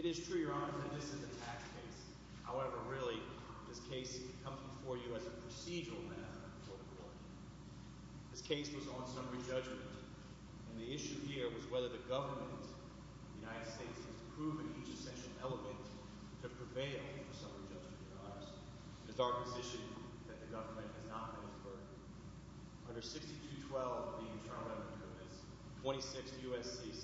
It is true, Your Honor, that this is a tax case. However, really, this case comes before you as a procedural matter before the court. This case was on summary judgment, and the issue here was whether the government of the United States has proven each essential element to prevail for summary judgment in our eyes. It is our position that the government has not made a verdict. Under 6212 of the Internal Revenue Code, that's 26 U.S.C.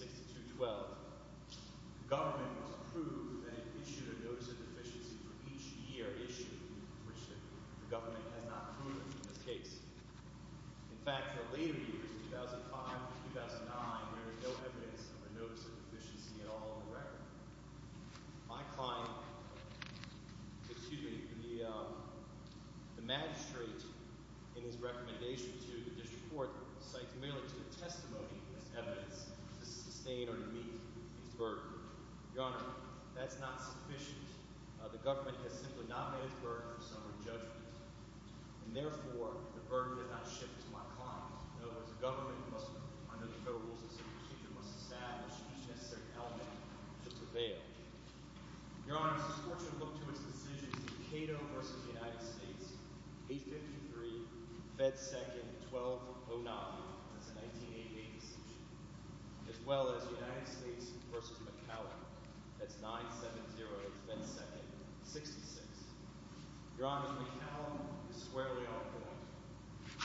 6212, the government must prove that it issued a notice of deficiency for each year issued which the government has not proven in this case. In fact, for later years, 2005 to 2009, there is no evidence of a notice of deficiency at all in the record. My client, excuse me, the magistrate, in his recommendation to the district court, cites merely to the testimony as evidence to sustain or to meet his verdict. Your Honor, that's not sufficient. The government has not made a verdict. And therefore, the verdict did not shift to my client. No, the government must, under the Federal Rules of Procedure, must establish each necessary element to prevail. Your Honor, it's important to look to its decision in Cato v. United States, 853, Fed 2nd, 1209, that's a 1988 decision, as well as United States v. McCallum, that's 970, Fed 2nd, 66. Your Honor, McCallum is squarely on point.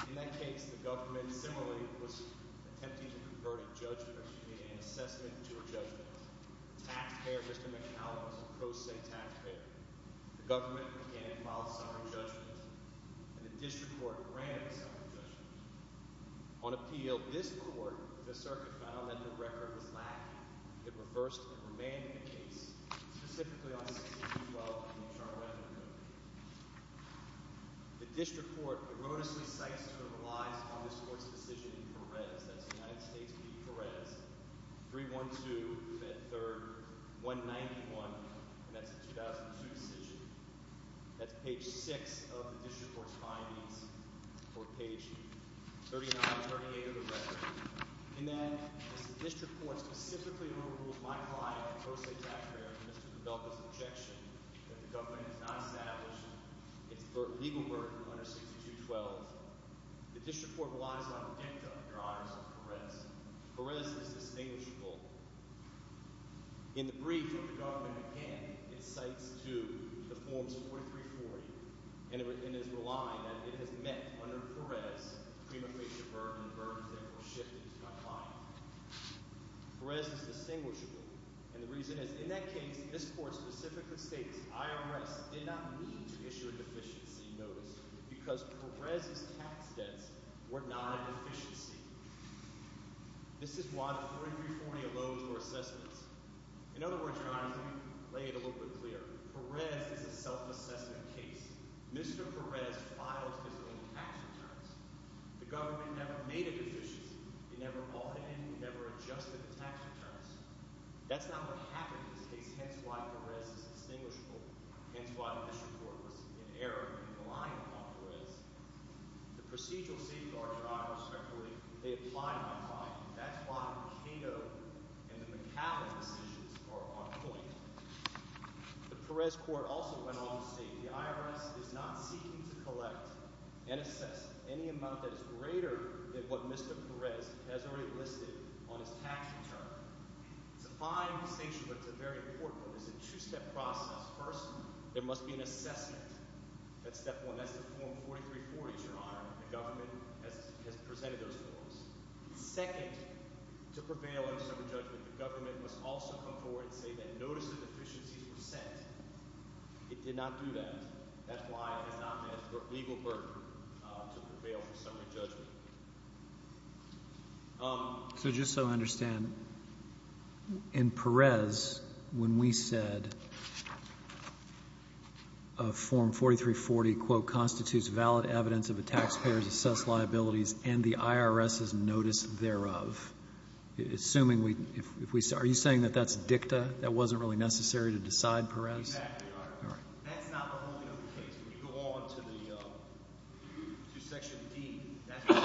In that case, the government similarly was attempting to convert a judgment, an assessment, to a judgment. Taxpayer, Mr. McCallum, is a pro se taxpayer. The government, again, filed a summary judgment, and the district court granted a summary judgment. On appeal, this court, the circuit, found that the record was lacking. It reversed and remanded the case, specifically on 6212, in the chart way I'm going to show you. The district court erroneously cites and relies on this court's decision in Perez, that's United States v. Perez, 312, Fed 3rd, 191, and that's a 2002 decision. That's page 6 of the district court. The district court specifically overrules my client, a pro se taxpayer, Mr. DeBelka's objection that the government has not established its legal burden under 6212. The district court relies on the dicta, Your Honors, of Perez. Perez is distinguishable. In the brief, the government, again, cites to the forms of 4340, and is relying that it has met, under Perez, the prima facie burden. The burden is therefore shifted to my client. Perez is distinguishable, and the reason is, in that case, this court specifically states, IRS did not need to issue a deficiency notice, because Perez's tax debts were not a deficiency. This is why the 4340 allows for assessments. In other words, Your Honors, let me lay it a self-assessment case. Mr. Perez filed his own tax returns. The government never made a deficiency. It never altered it. It never adjusted the tax returns. That's not what happened in this case, hence why Perez is distinguishable, hence why the district court was in error in relying on Perez. The procedural safeguards, Your Honors, respectfully, they apply to my client. That's why Cato and the McAllen decisions are on point. The Perez court also went on to state, the IRS is not seeking to collect and assess any amount that is greater than what Mr. Perez has already listed on his tax return. It's a fine distinction, but it's a very important one. It's a two-step process. First, there must be an assessment. That's step one. That's the form to prevail in summary judgment. The government must also come forward and say that notice of deficiencies were sent. It did not do that. That's why it has not met the legal burden to prevail for summary judgment. So just so I understand, in Perez, when we said a Form 4340, quote, constitutes valid evidence of a taxpayer's assessed liabilities and the IRS's notice thereof. Are you saying that that's dicta? That wasn't really necessary to decide Perez? Exactly, Your Honor. That's not the only other case. When you go on to Section D, there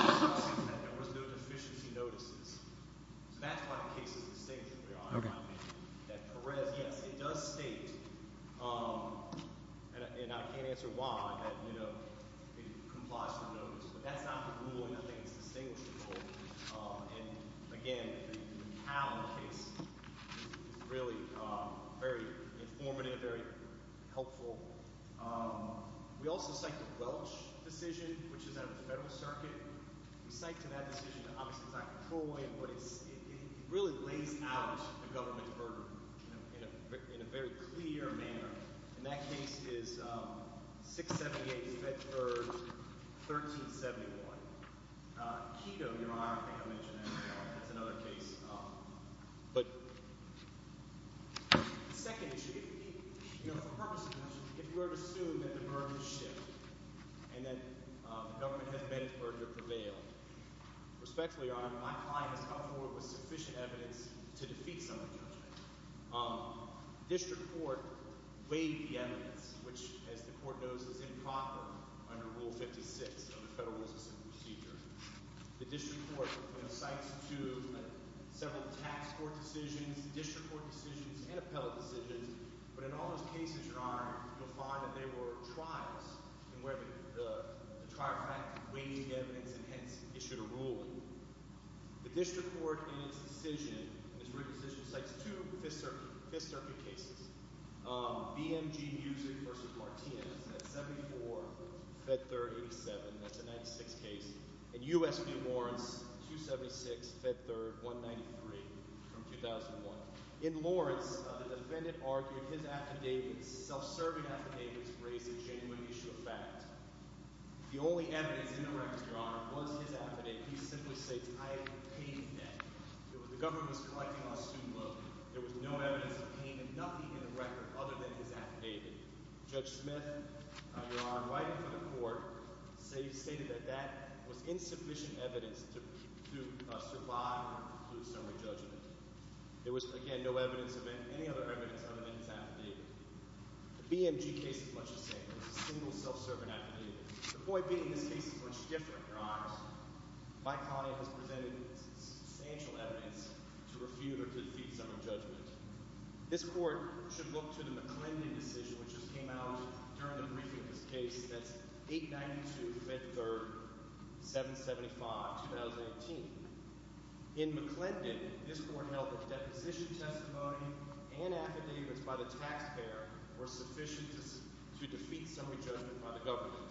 was no deficiency notices. So that's why the case is distinguishable, Your Honor. That Perez, yes, it does state, and I can't answer why, that it complies with notices. But that's not the rule, and I think it's distinguishable. And again, the Powell case is really very informative, very helpful. We also cite the Welch decision, which is out of the federal circuit. We cite to that decision, obviously it's not controlling it, but it really lays out the government's burden in a very clear manner. And that case is 678 Fetford 1371. Quito, Your Honor, I think I mentioned that earlier. That's another case. The second issue, for purposes of this, if we were to assume that the burden has shifted and that the government has met its burden to prevail, respectfully, Your Honor, my client has with sufficient evidence to defeat some of the government. District Court weighed the evidence, which, as the Court knows, is improper under Rule 56 of the Federal Rules of Procedure. The District Court, you know, cites to several tax court decisions, district court decisions, and appellate decisions. But in all those cases, Your Honor, you'll find that they were trials in where the trial fact weighed the evidence, and hence issued a ruling. The District Court, in its decision, in its written decision, cites two Fifth Circuit cases, BMG Musick v. Martinez, that's 74, Fetford 87, that's a 96 case, and U.S. v. Lawrence, 276, Fetford 193, from 2001. In Lawrence, the defendant argued his affidavits, self-serving affidavits, raised a genuine issue of fact. The only evidence in the record, Your Honor, was his affidavit. He simply states, I have paid that. The government was collecting on student loan. There was no evidence of payment, nothing in the record other than his affidavit. Judge Smith, Your Honor, writing for the Court, stated that that was insufficient evidence to survive or conclude self-serving judgment. There was, again, no evidence of any other evidence other than his affidavit. The BMG case is much the same. It's a single self-serving affidavit. The point being, this case is much different, Your Honor. Mike Conant has presented substantial evidence to refute or to defeat self-serving judgment. This Court should look to the McClendon decision, which just came out during the briefing of this case, that's 892, 5th 3rd, 775, 2018. In McClendon, this Court held that deposition testimony and affidavits by the taxpayer were sufficient to defeat self-serving judgment by the government.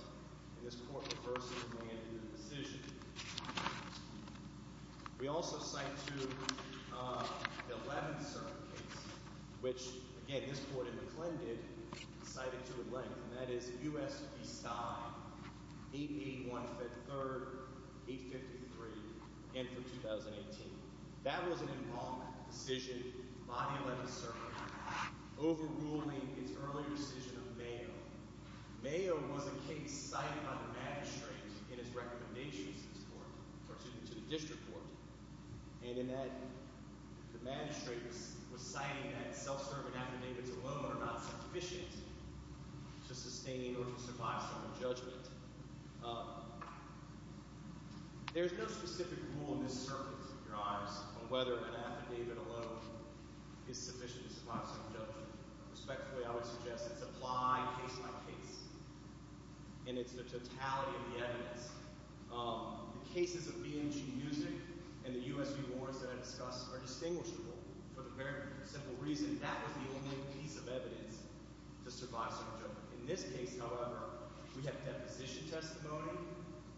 And this Court reversed and re-enacted the decision. We also cite to the 11th serving case, which, again, this Court in and for 2018. That was an involvement decision by the 11th serving, overruling its earlier decision of Mayo. Mayo was a case cited by the magistrate in his recommendations to the District Court, and in that, the magistrate was citing that self-serving affidavits alone are not sufficient to sustain or to survive self-serving judgment. There's no specific rule in this circuit, Your Honors, on whether an affidavit alone is sufficient to survive self-serving judgment. Respectfully, I would suggest it's applied case by case, and it's the totality of the evidence. The cases of BMG Music and the U.S. V. Warrens that I discussed are distinguishable for the very simple reason that was the only piece of evidence to survive self-serving judgment. In this case, however, we have deposition testimony.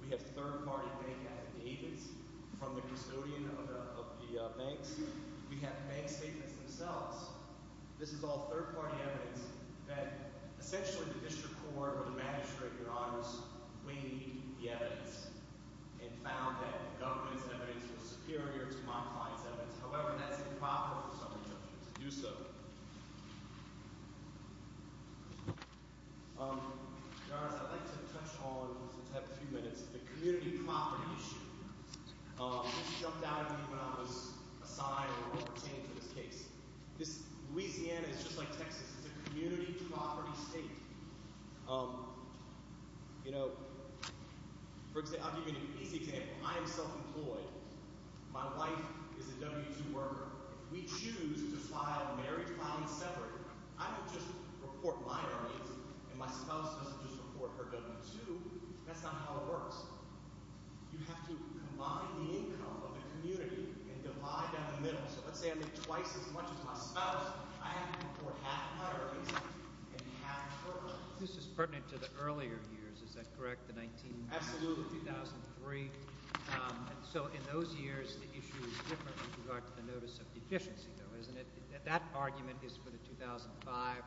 We have third-party bank affidavits from the custodian of the banks. We have bank statements themselves. This is all third-party evidence that, essentially, the District Court or the magistrate, Your Honors, weighed the evidence and found that the government's evidence was superior to my client's proper self-serving judgment to do so. Your Honors, I'd like to touch on, just to have a few minutes, the community property issue. This jumped out at me when I was assigned or pertaining to this case. Louisiana is just like Texas. It's a community property state. I'll give you an easy example. I am self-employed. My wife is a W-2 worker. If we choose to file marriage, file it separately, I don't just report my earnings and my spouse doesn't just report her W-2. That's not how it works. You have to combine the income of the community and divide down the middle. So let's say I make twice as much as my spouse, I have to report half my earnings and half hers. This is pertinent to the earlier years, is that correct? The 19- Absolutely. 2003. So in those years, the issue is different with regard to the notice of deficiency, though, isn't it? That argument is for the 2005 to 2009.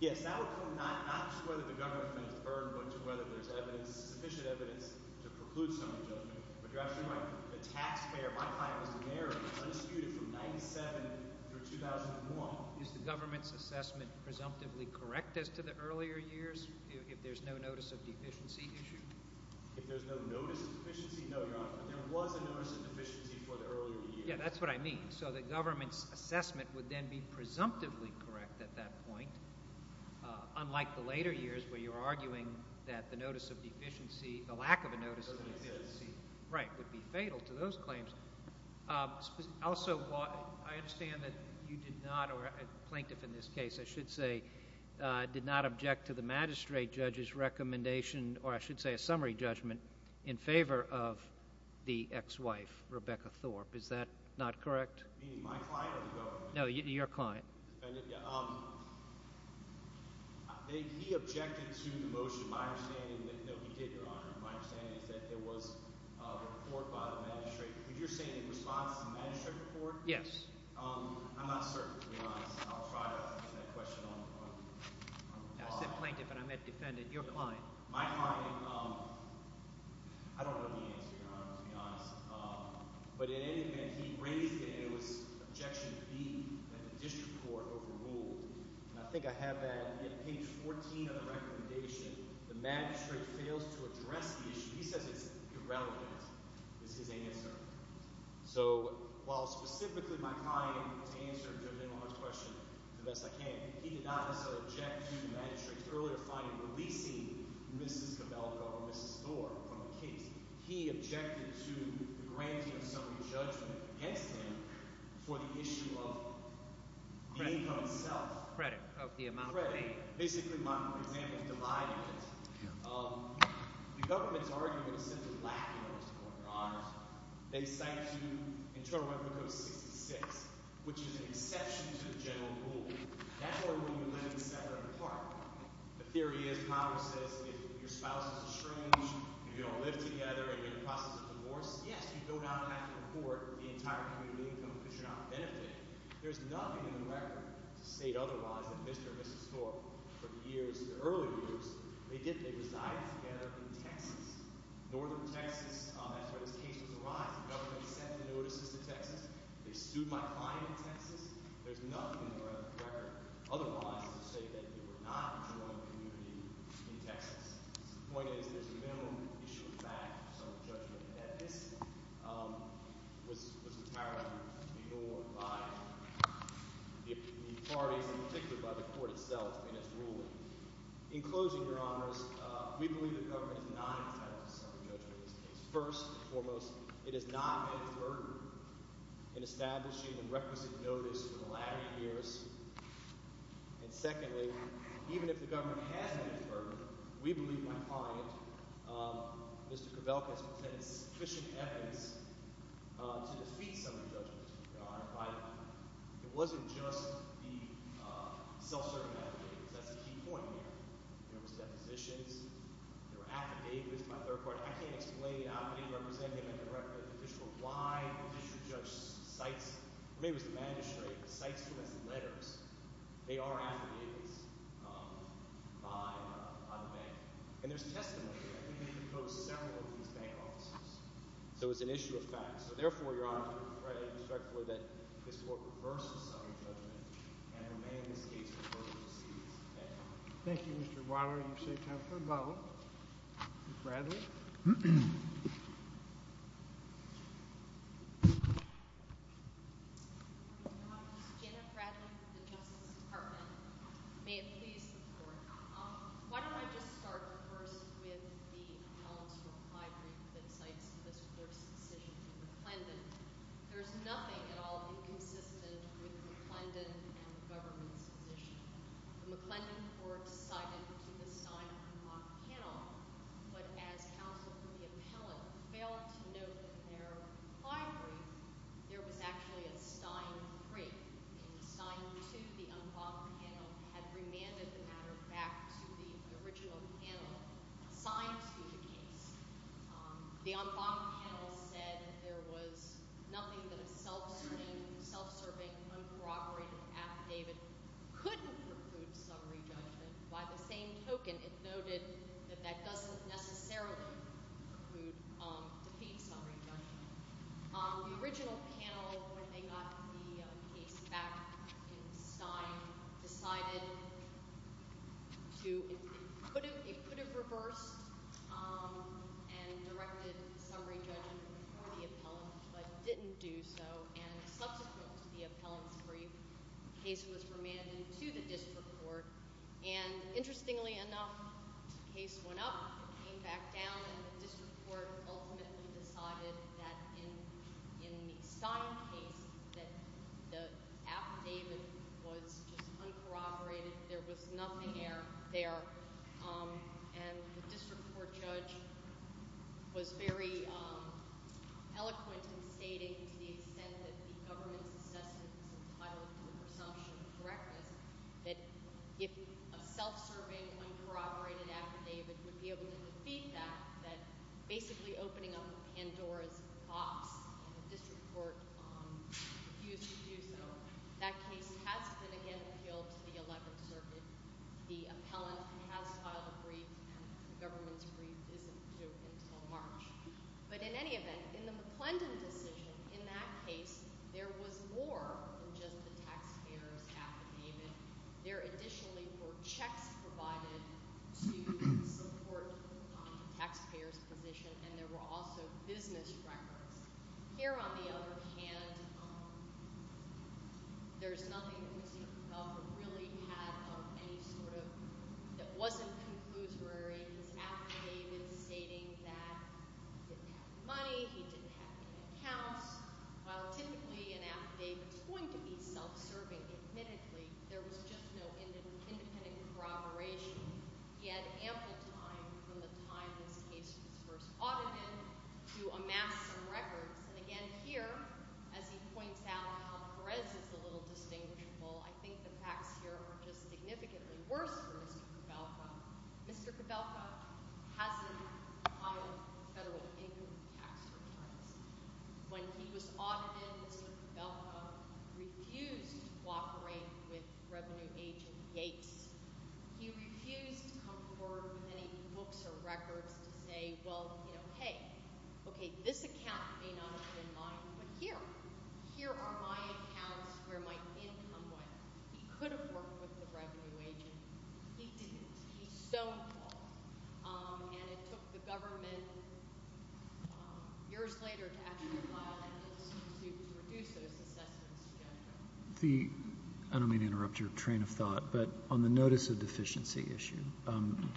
Yes, that would come not just to whether the government has burned, but to whether there's sufficient evidence to preclude someone's judgment. But you're asking, like, the taxpayer, my client was a mayor, and it's undisputed from 1997 through 2001. Is the government's assessment presumptively correct as to the earlier years, if there's no notice of deficiency issue? If there's no notice of deficiency? No, Your Honor, but there was a notice of deficiency for the earlier years. Yeah, that's what I mean. So the government's assessment would then be presumptively correct at that point, unlike the later years where you're arguing that the notice of deficiency, the lack of a notice of deficiency, would be fatal to those claims. Also, I understand that you did not, or a plaintiff in this case, I should say, did not object to the magistrate judge's recommendation, or I should say a summary judgment, in favor of the ex-wife, Rebecca Thorpe. Is that not correct? Meaning my client or the government? No, your client. He objected to the motion, my understanding, no, he did, Your Honor, my understanding is that there was a report by the magistrate. But you're saying in response to the magistrate report? Yes. I'm not certain, to be honest. I'll try to answer that question on the law. I said plaintiff, and I meant defendant, your client. My client, I don't know the answer, Your Honor, to be honest. But in any event, he raised it, and it was objection B, that the district court overruled. And I think I have that on page 14 of the recommendation. The magistrate fails to address the issue. He says it's irrelevant. This is a yes, sir. So while specifically my client, to answer the gentleman's question the best I can, he did not also object to the magistrate's earlier finding releasing Mrs. Cabello or Mrs. Thorpe from the case. He objected to the granting of summary judgment against him for the issue of the income itself. Credit of the amount. Credit. Basically, my example is divided. Um, the government's argument is simply lacking in this court, Your Honor. They cite to you Internal Revenue Code 66, which is an exception to the general rule. That's where you limit the separate part. The theory is Congress says if your spouse is estranged, you don't live together, and you're in the process of divorce, yes, you do not have to report the entire community income because you're not benefiting. There's nothing in the record to state otherwise that Mr. and Mrs. Thorpe, for the years, the early years, they did, they resided together in Texas. Northern Texas, that's where this case was arised. The government sent the notices to Texas. They sued my client in Texas. There's nothing in the record otherwise to say that they were not enjoying community in Texas. The point is there's a minimum issue of fact that this was retired to be ruled by the parties, particularly by the court itself and its ruling. In closing, Your Honors, we believe the government is not entitled to self-judgment in this case. First and foremost, it has not met its burden in establishing and requisite notice for the latter years. And secondly, even if the government has met its burden, we believe my client, um, Mr. Kovelka, has presented sufficient evidence to defeat some of the judgments. It wasn't just the self-serving affidavits. That's the key point here. There was depositions. There were affidavits by third parties. I can't explain the affidavit representing a direct official. Why would you judge cites, or maybe it was the magistrate, cites them as letters. They are affidavits, um, by, uh, by the bank. And there's testimony. So it's an issue of fact. So therefore, Your Honor, I'm afraid, respectfully, that this court reverses some of the judgment and remain in this case for further proceedings. Thank you, Mr. Weiler. Are you safe now? Janet Bradley with the Justice Department. May it please the court. Um, why don't I just start first with the appellant's reply brief that cites this first decision to McClendon. There's nothing at all inconsistent with McClendon and the government's position. The McClendon court cited to the Stein and Locke panel, but as counsel for the appellant failed to note in their reply brief, there was actually a Stein three. In Stein two, the unbothered panel had remanded the matter back to the original panel assigned to the case. The unbothered panel said that there was nothing that a self-serving, self-serving, uncorroborated affidavit couldn't preclude summary judgment. By the same token, it noted that that doesn't necessarily preclude, um, defeat summary judgment. Um, the original panel, when they got the case back in Stein, decided to, it could have reversed, um, and directed summary judgment before the appellant, but didn't do so. And subsequent to the appellant's brief, the case was remanded to the district court. And interestingly enough, the case went up, came back down, and the district court ultimately decided that in, in the Stein case, that the affidavit was just uncorroborated. There was nothing there, um, and the district court judge was very, um, eloquent in stating to the extent that the government's assessment was entitled to a presumption of correctness, that if a self-serving, uncorroborated affidavit would be able to defeat that, that basically opening up Pandora's box, and the district court, um, refused to do so. That case has been again appealed to the Eleventh Circuit. The appellant has filed a brief, and the government's brief isn't due until March. But in any event, in the McClendon decision, in that case, there was more than just the taxpayer's affidavit. There additionally were checks provided to support, um, the taxpayer's position, and there were also business records. Here on the other hand, um, there's nothing that wasn't conclusory. His affidavit is stating that he didn't have any money, he didn't have any accounts. While typically an affidavit's going to be self-serving, admittedly, there was just no independent, independent corroboration. He had ample time from the time this case was first audited to amass some records, and again here, as he points out how Perez is a little distinguishable, I think the facts here are just significantly worse for Mr. Cabelka. Mr. Cabelka hasn't filed federal income tax returns. When he was audited, Mr. Cabelka refused to cooperate with revenue agent Yates. He refused to come forward with any books or records to say, well, you know, hey, okay, this account may not have been mine, but here, here are my accounts where my income went. He could have worked with the revenue agent. He didn't. He's so involved, um, and it took the government, um, years later to actually file an institute to reduce those assessments. The, I don't mean to interrupt your train of thought, but on the notice of deficiency issue, um,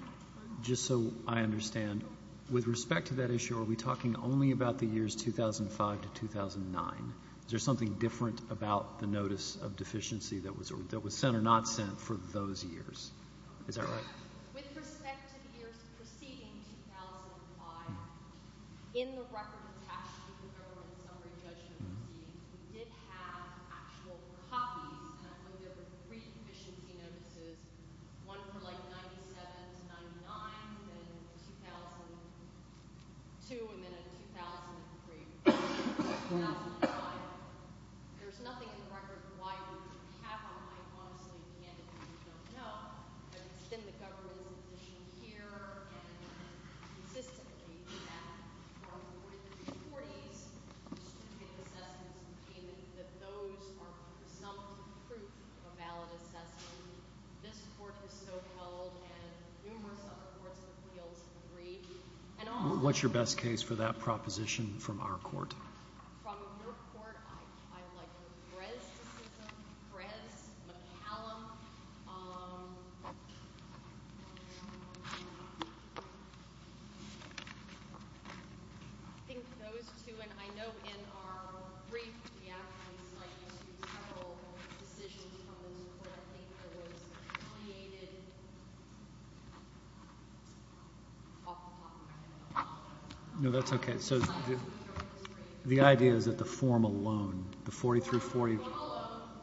just so I understand, with respect to that issue, are we talking only about the years 2005 to 2009? Is there something different about the notice of deficiency that was, that was sent or not sent for those years? Is that right? With respect to the years preceding 2005, in the record attached to the government summary judgment proceedings, we did have actual copies, and I believe there were three deficiency notices, one for like 97 to 99, then in 2002, and then in 2003, 2005. There's nothing in the record why we would have them. I honestly can't, if you don't know, but it's been the government's position here and consistently that for the 40s, distributed assessments of payment, that those are presumptive proof of a valid assessment. This court has so held and numerous other courts and appeals have agreed. And what's your best case for that proposition from our court? From your court, I, I like Brezicism, Brez, McCallum, um, I think those two, and I know in our brief, we actually cite several decisions from those court, I think there was a pleaded off the top of my head. No, that's okay. So the idea is that the form alone, the 40 through 40,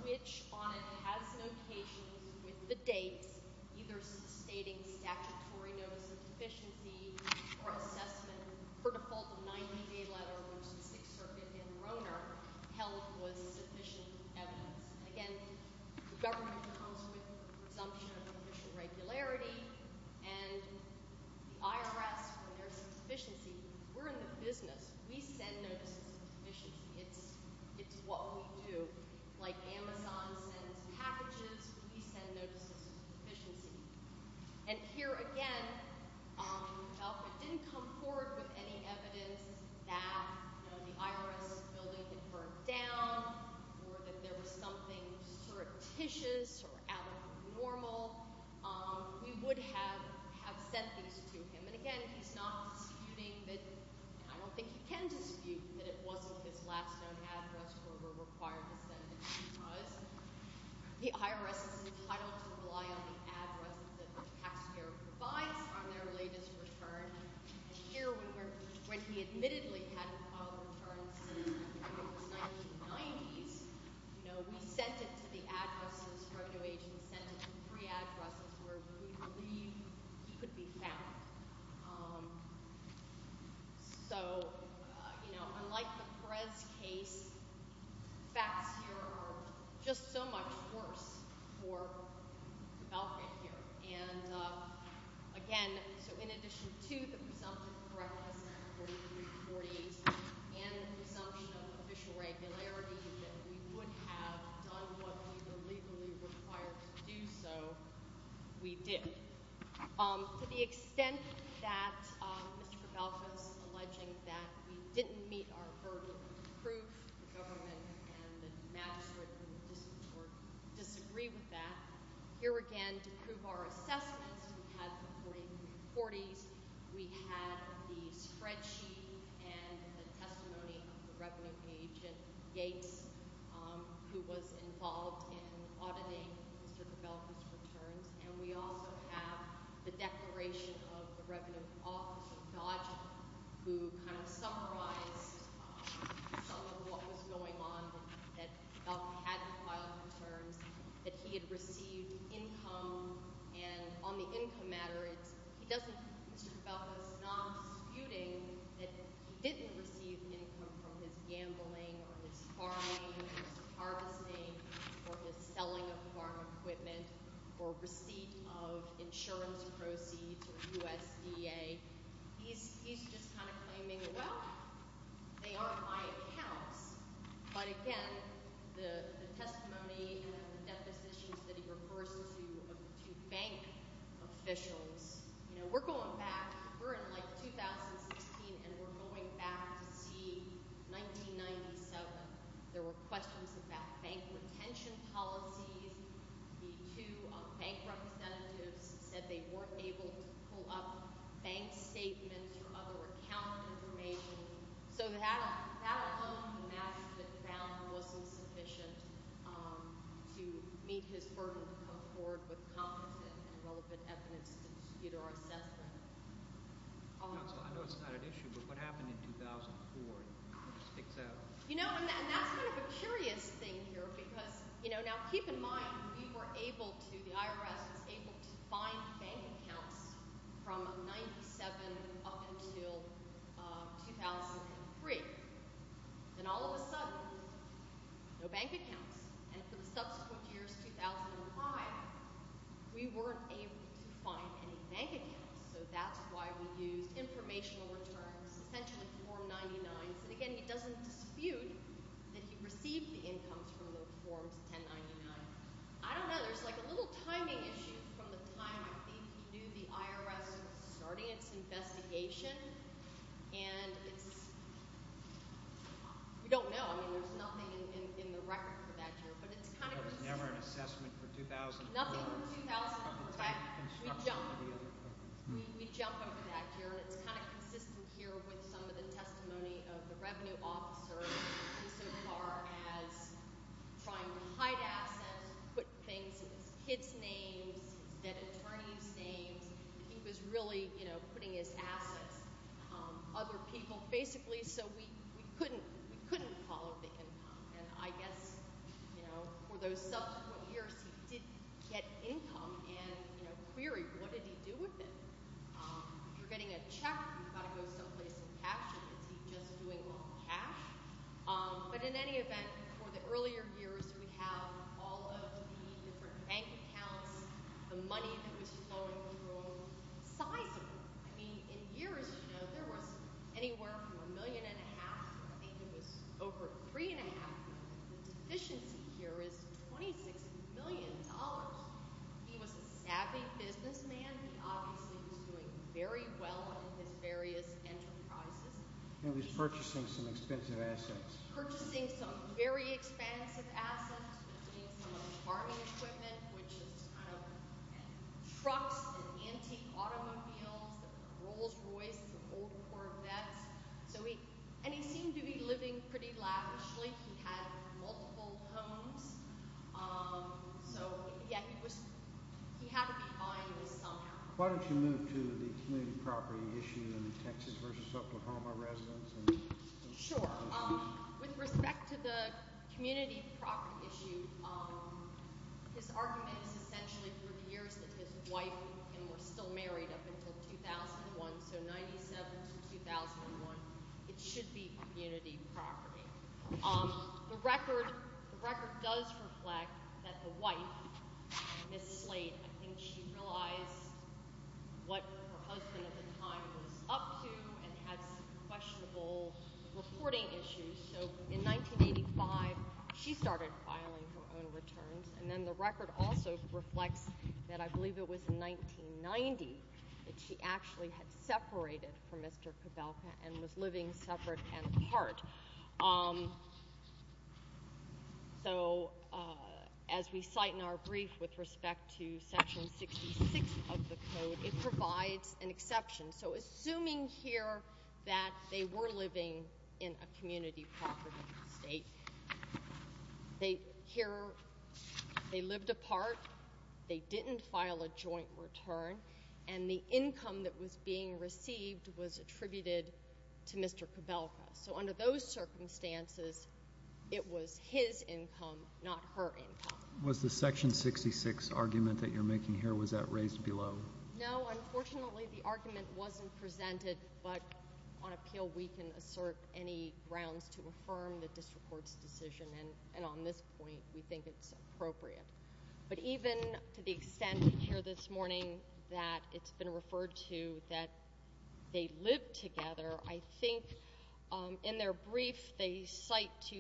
which on it has notations with the dates, either stating statutory notice of deficiency or assessment for default of 90 day letter, which the Sixth Circuit in Rohnert held was sufficient evidence. Again, the government comes with presumption of official regularity and the IRS, when there's a deficiency, we're in the business. We send notices of deficiency. It's, it's what we do. Like Amazon sends packages, we send notices of deficiency. And here again, um, Alfred didn't come forward with any evidence that, you know, the IRS building had burned down or that there was something surreptitious or out of the normal. Um, we would have, have sent these to him. And again, he's not disputing that. I don't think he can dispute that it wasn't his last known address where we're required to send it because the IRS is entitled to rely on the addresses that the taxpayer provides on their latest return. And here we were, when he admittedly hadn't filed a return since it was 1990s, you know, we sent it to the addresses, the drug do agent sent it to three addresses where we believe he could be found. Um, so, uh, you know, unlike the Perez case facts here are just so much worse for the Belka here. And, uh, again, so in addition to the presumption of correctness and the presumption of official regularity that we would have done what we were legally required to do. So we did, um, to the extent that, um, Mr. Belka's alleging that we didn't meet our burden of proof, the government and the magistrate in the distance disagree with that. Here again, to prove our assessments, we had the 4340s, we had the spreadsheet and the testimony of the revenue agent Gates, um, who was involved in auditing Mr. Belka's returns. And we also have the declaration of the revenue officer Dodge, who kind of summarized some of what was going on, that Belka hadn't filed returns, that he had received income. And on the income matter, it's, he doesn't, Mr. Belka's not disputing that he didn't receive income from his gambling or his farming or his harvesting or his selling of farm equipment or receipt of insurance proceeds or USDA. He's, he's just kind of claiming, well, they aren't my accounts. But again, the testimony and the depositions that he refers to, to bank officials, you know, we're going back, we're in like 2016 and we're going back to see 1997. There were questions about bank retention policies. The two bank representatives said they weren't able to pull up bank statements or other account information. So that, that alone, the matter that found wasn't sufficient, um, to meet his burden to come forward with competent and relevant evidence to dispute our assessment. I know it's not an issue, but what happened in 2004? You know, and that's kind of a curious thing here because, you know, now keep in mind, we were able to, the IRS was able to find bank accounts from 97 up until 2003. Then all of a sudden, no bank accounts. And for the subsequent years, 2005, we weren't able to find any bank accounts. So that's why we used informational returns, essentially Form 99. So again, he doesn't dispute that he received the incomes from those Forms 1099. I don't know. There's like a little timing issue from the time I think he knew the IRS was starting its investigation. And it's, we don't know. I mean, there's nothing in the record for that year, but it's kind of... There was never an assessment for 2004. Nothing from 2004. We jumped over that year. And it's kind of consistent here with some of the testimony of the revenue officer, who so far has tried to hide assets, put things in his kids' names, his debt attorney's names. He was really, you know, putting his assets, um, other people, basically, so we, we couldn't, we couldn't follow the income. And I guess, you know, for those subsequent years, he did get income and, you know, queried, what did he do with it? If you're getting a check, you've got to go someplace and cash it. Is he just doing it on cash? But in any event, for the earlier years, we have all of the different bank accounts, the money that was flowing through them, sizable. I mean, in years, you know, there was anywhere from a million and a half. I think it was over three and a half. The deficiency here is 26 million dollars. He was a savvy businessman. He obviously was doing very well in his various enterprises. He was purchasing some expensive assets. Purchasing some very expensive assets, including some of the farming equipment, which is kind of, and antique automobiles, the Rolls Royce, the old Corvettes. So he, and he seemed to be living pretty lavishly. He had multiple homes. Um, so yeah, he was, he had to be buying this somehow. Why don't you move to the community property issue in Texas versus Oklahoma residents? Sure. Um, with respect to the community property issue, um, his argument is essentially for the wife and were still married up until 2001. So 97 to 2001, it should be community property. Um, the record, the record does reflect that the wife, Ms. Slate, I think she realized what her husband at the time was up to and had some questionable reporting issues. So in 1985, she started filing her own returns. And then the record also reflects that I believe it was 1990 that she actually had separated from Mr. Kabelka and was living separate and apart. Um, so, uh, as we cite in our brief with respect to section 66 of the code, it provides an exception. So assuming here that they were living in a community property estate, they here, they lived apart, they didn't file a joint return, and the income that was being received was attributed to Mr. Kabelka. So under those circumstances, it was his income, not her income. Was the section 66 argument that you're making here, was that raised below? No, unfortunately the argument wasn't presented. But on appeal, we can assert any grounds to affirm the district court's decision. And on this point, we think it's appropriate. But even to the extent here this morning that it's been referred to that they lived together, I think in their brief, they cite to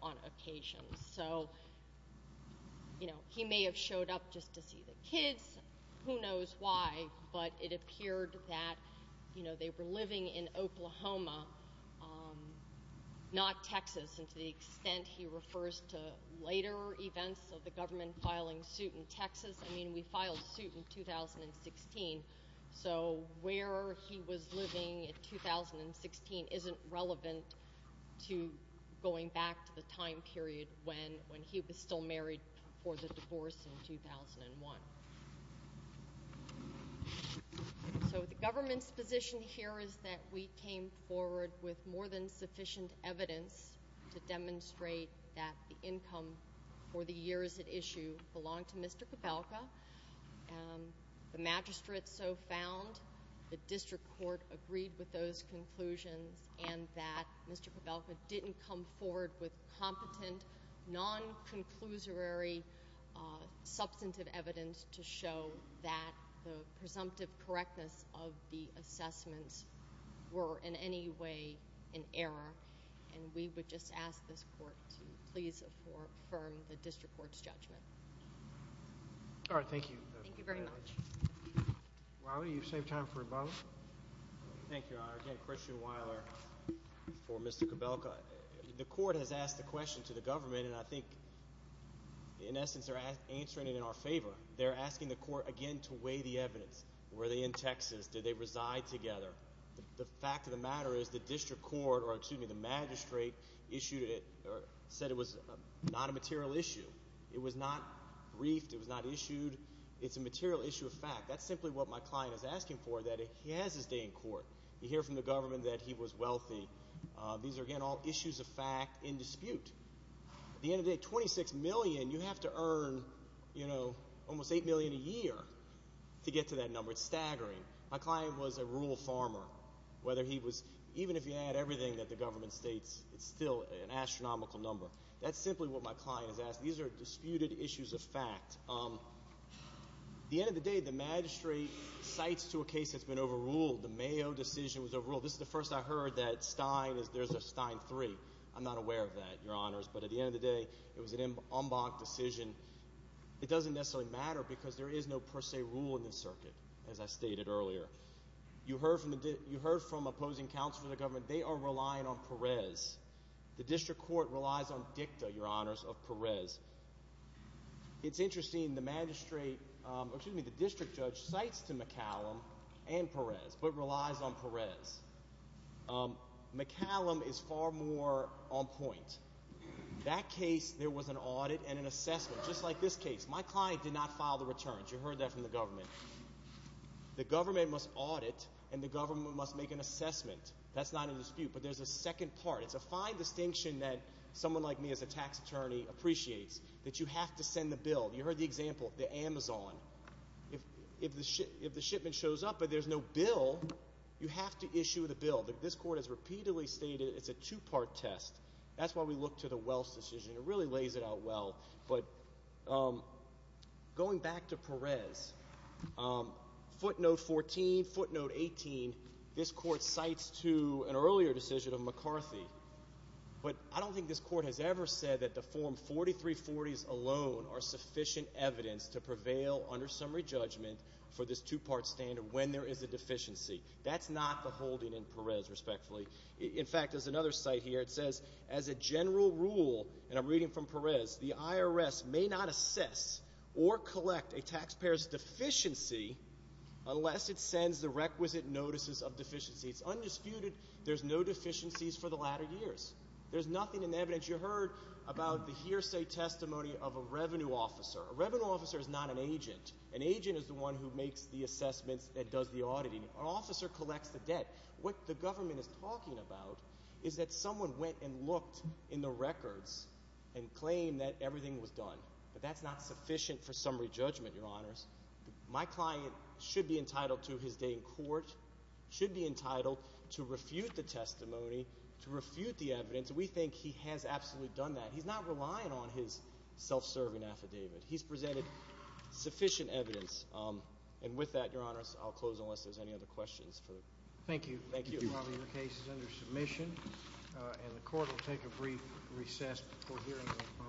on occasion. So, you know, he may have showed up just to see the kids, who knows why, but it appeared that, you know, they were living in Oklahoma, um, not Texas. And to the extent he refers to later events of the government filing suit in Texas, I mean, we filed suit in 2016. So where he was living in 2016 isn't relevant to going back to the time period when he was still married for the divorce in 2001. So the government's position here is that we came forward with more than sufficient evidence to demonstrate that the income for the years at issue belonged to Mr. Cabelka. The magistrate so found. The district court agreed with those conclusions and that Mr. Cabelka didn't come forward with competent, non-conclusory, substantive evidence to show that the presumptive correctness of the assessments were in any way an error. And we would ask this court to please affirm the district court's judgment. All right, thank you. Thank you very much. Wiley, you save time for both. Thank you, Your Honor. Again, Christian Wiley for Mr. Cabelka. The court has asked the question to the government, and I think, in essence, they're answering it in our favor. They're asking the court again to weigh the evidence. Were they in Texas? Did they reside together? The fact of the matter is the district court or, excuse me, the magistrate issued it or said it was not a material issue. It was not briefed. It was not issued. It's a material issue of fact. That's simply what my client is asking for, that he has his day in court. You hear from the government that he was wealthy. These are, again, all issues of fact in dispute. At the end of the day, $26 million, you have to earn, you know, almost $8 million a year to get to that number. It's staggering. My client was a rural that the government states. It's still an astronomical number. That's simply what my client is asking. These are disputed issues of fact. At the end of the day, the magistrate cites to a case that's been overruled. The Mayo decision was overruled. This is the first I heard that Stein, there's a Stein 3. I'm not aware of that, Your Honors, but at the end of the day, it was an en banc decision. It doesn't necessarily matter because there is no per se rule in the circuit, as I stated earlier. You heard from opposing counsel for the government. They are relying on Perez. The district court relies on dicta, Your Honors, of Perez. It's interesting, the magistrate, excuse me, the district judge cites to McCallum and Perez, but relies on Perez. McCallum is far more on point. That case, there was an audit and an assessment, just like this case. My client did not file the returns. You heard that from the government. The government must audit and the government must make an assessment. That's not a dispute, but there's a second part. It's a fine distinction that someone like me as a tax attorney appreciates, that you have to send the bill. You heard the example, the Amazon. If the shipment shows up, but there's no bill, you have to issue the bill. This court has repeatedly stated it's a two-part test. That's why we look to the Wells decision. It really lays it out well, but going back to Perez, footnote 14, footnote 18, this court cites to an earlier decision of McCarthy, but I don't think this court has ever said that the form 4340s alone are sufficient evidence to prevail under summary judgment for this two-part standard when there is a deficiency. That's not the holding in Perez, respectfully. In fact, there's another site here. It says, as a general rule, and I'm reading from Perez, the IRS may not assess or collect a taxpayer's deficiency unless it sends the requisite notices of deficiency. It's undisputed there's no deficiencies for the latter years. There's nothing in evidence. You heard about the hearsay testimony of a revenue officer. A revenue officer is not an agent. An agent is the one who makes the assessments, that does the auditing. An officer collects the debt. What the government is talking about is that someone went and looked in the records and claimed that everything was done, but that's not sufficient for summary judgment, your honors. My client should be entitled to his day in court, should be entitled to refute the testimony, to refute the evidence. We think he has absolutely done that. He's not relying on his self-serving affidavit. He's presented sufficient evidence, and with that, your honors, I'll close unless there's any other questions. Thank you. Thank you. Your case is under submission, and the court will take a brief recess before hearing.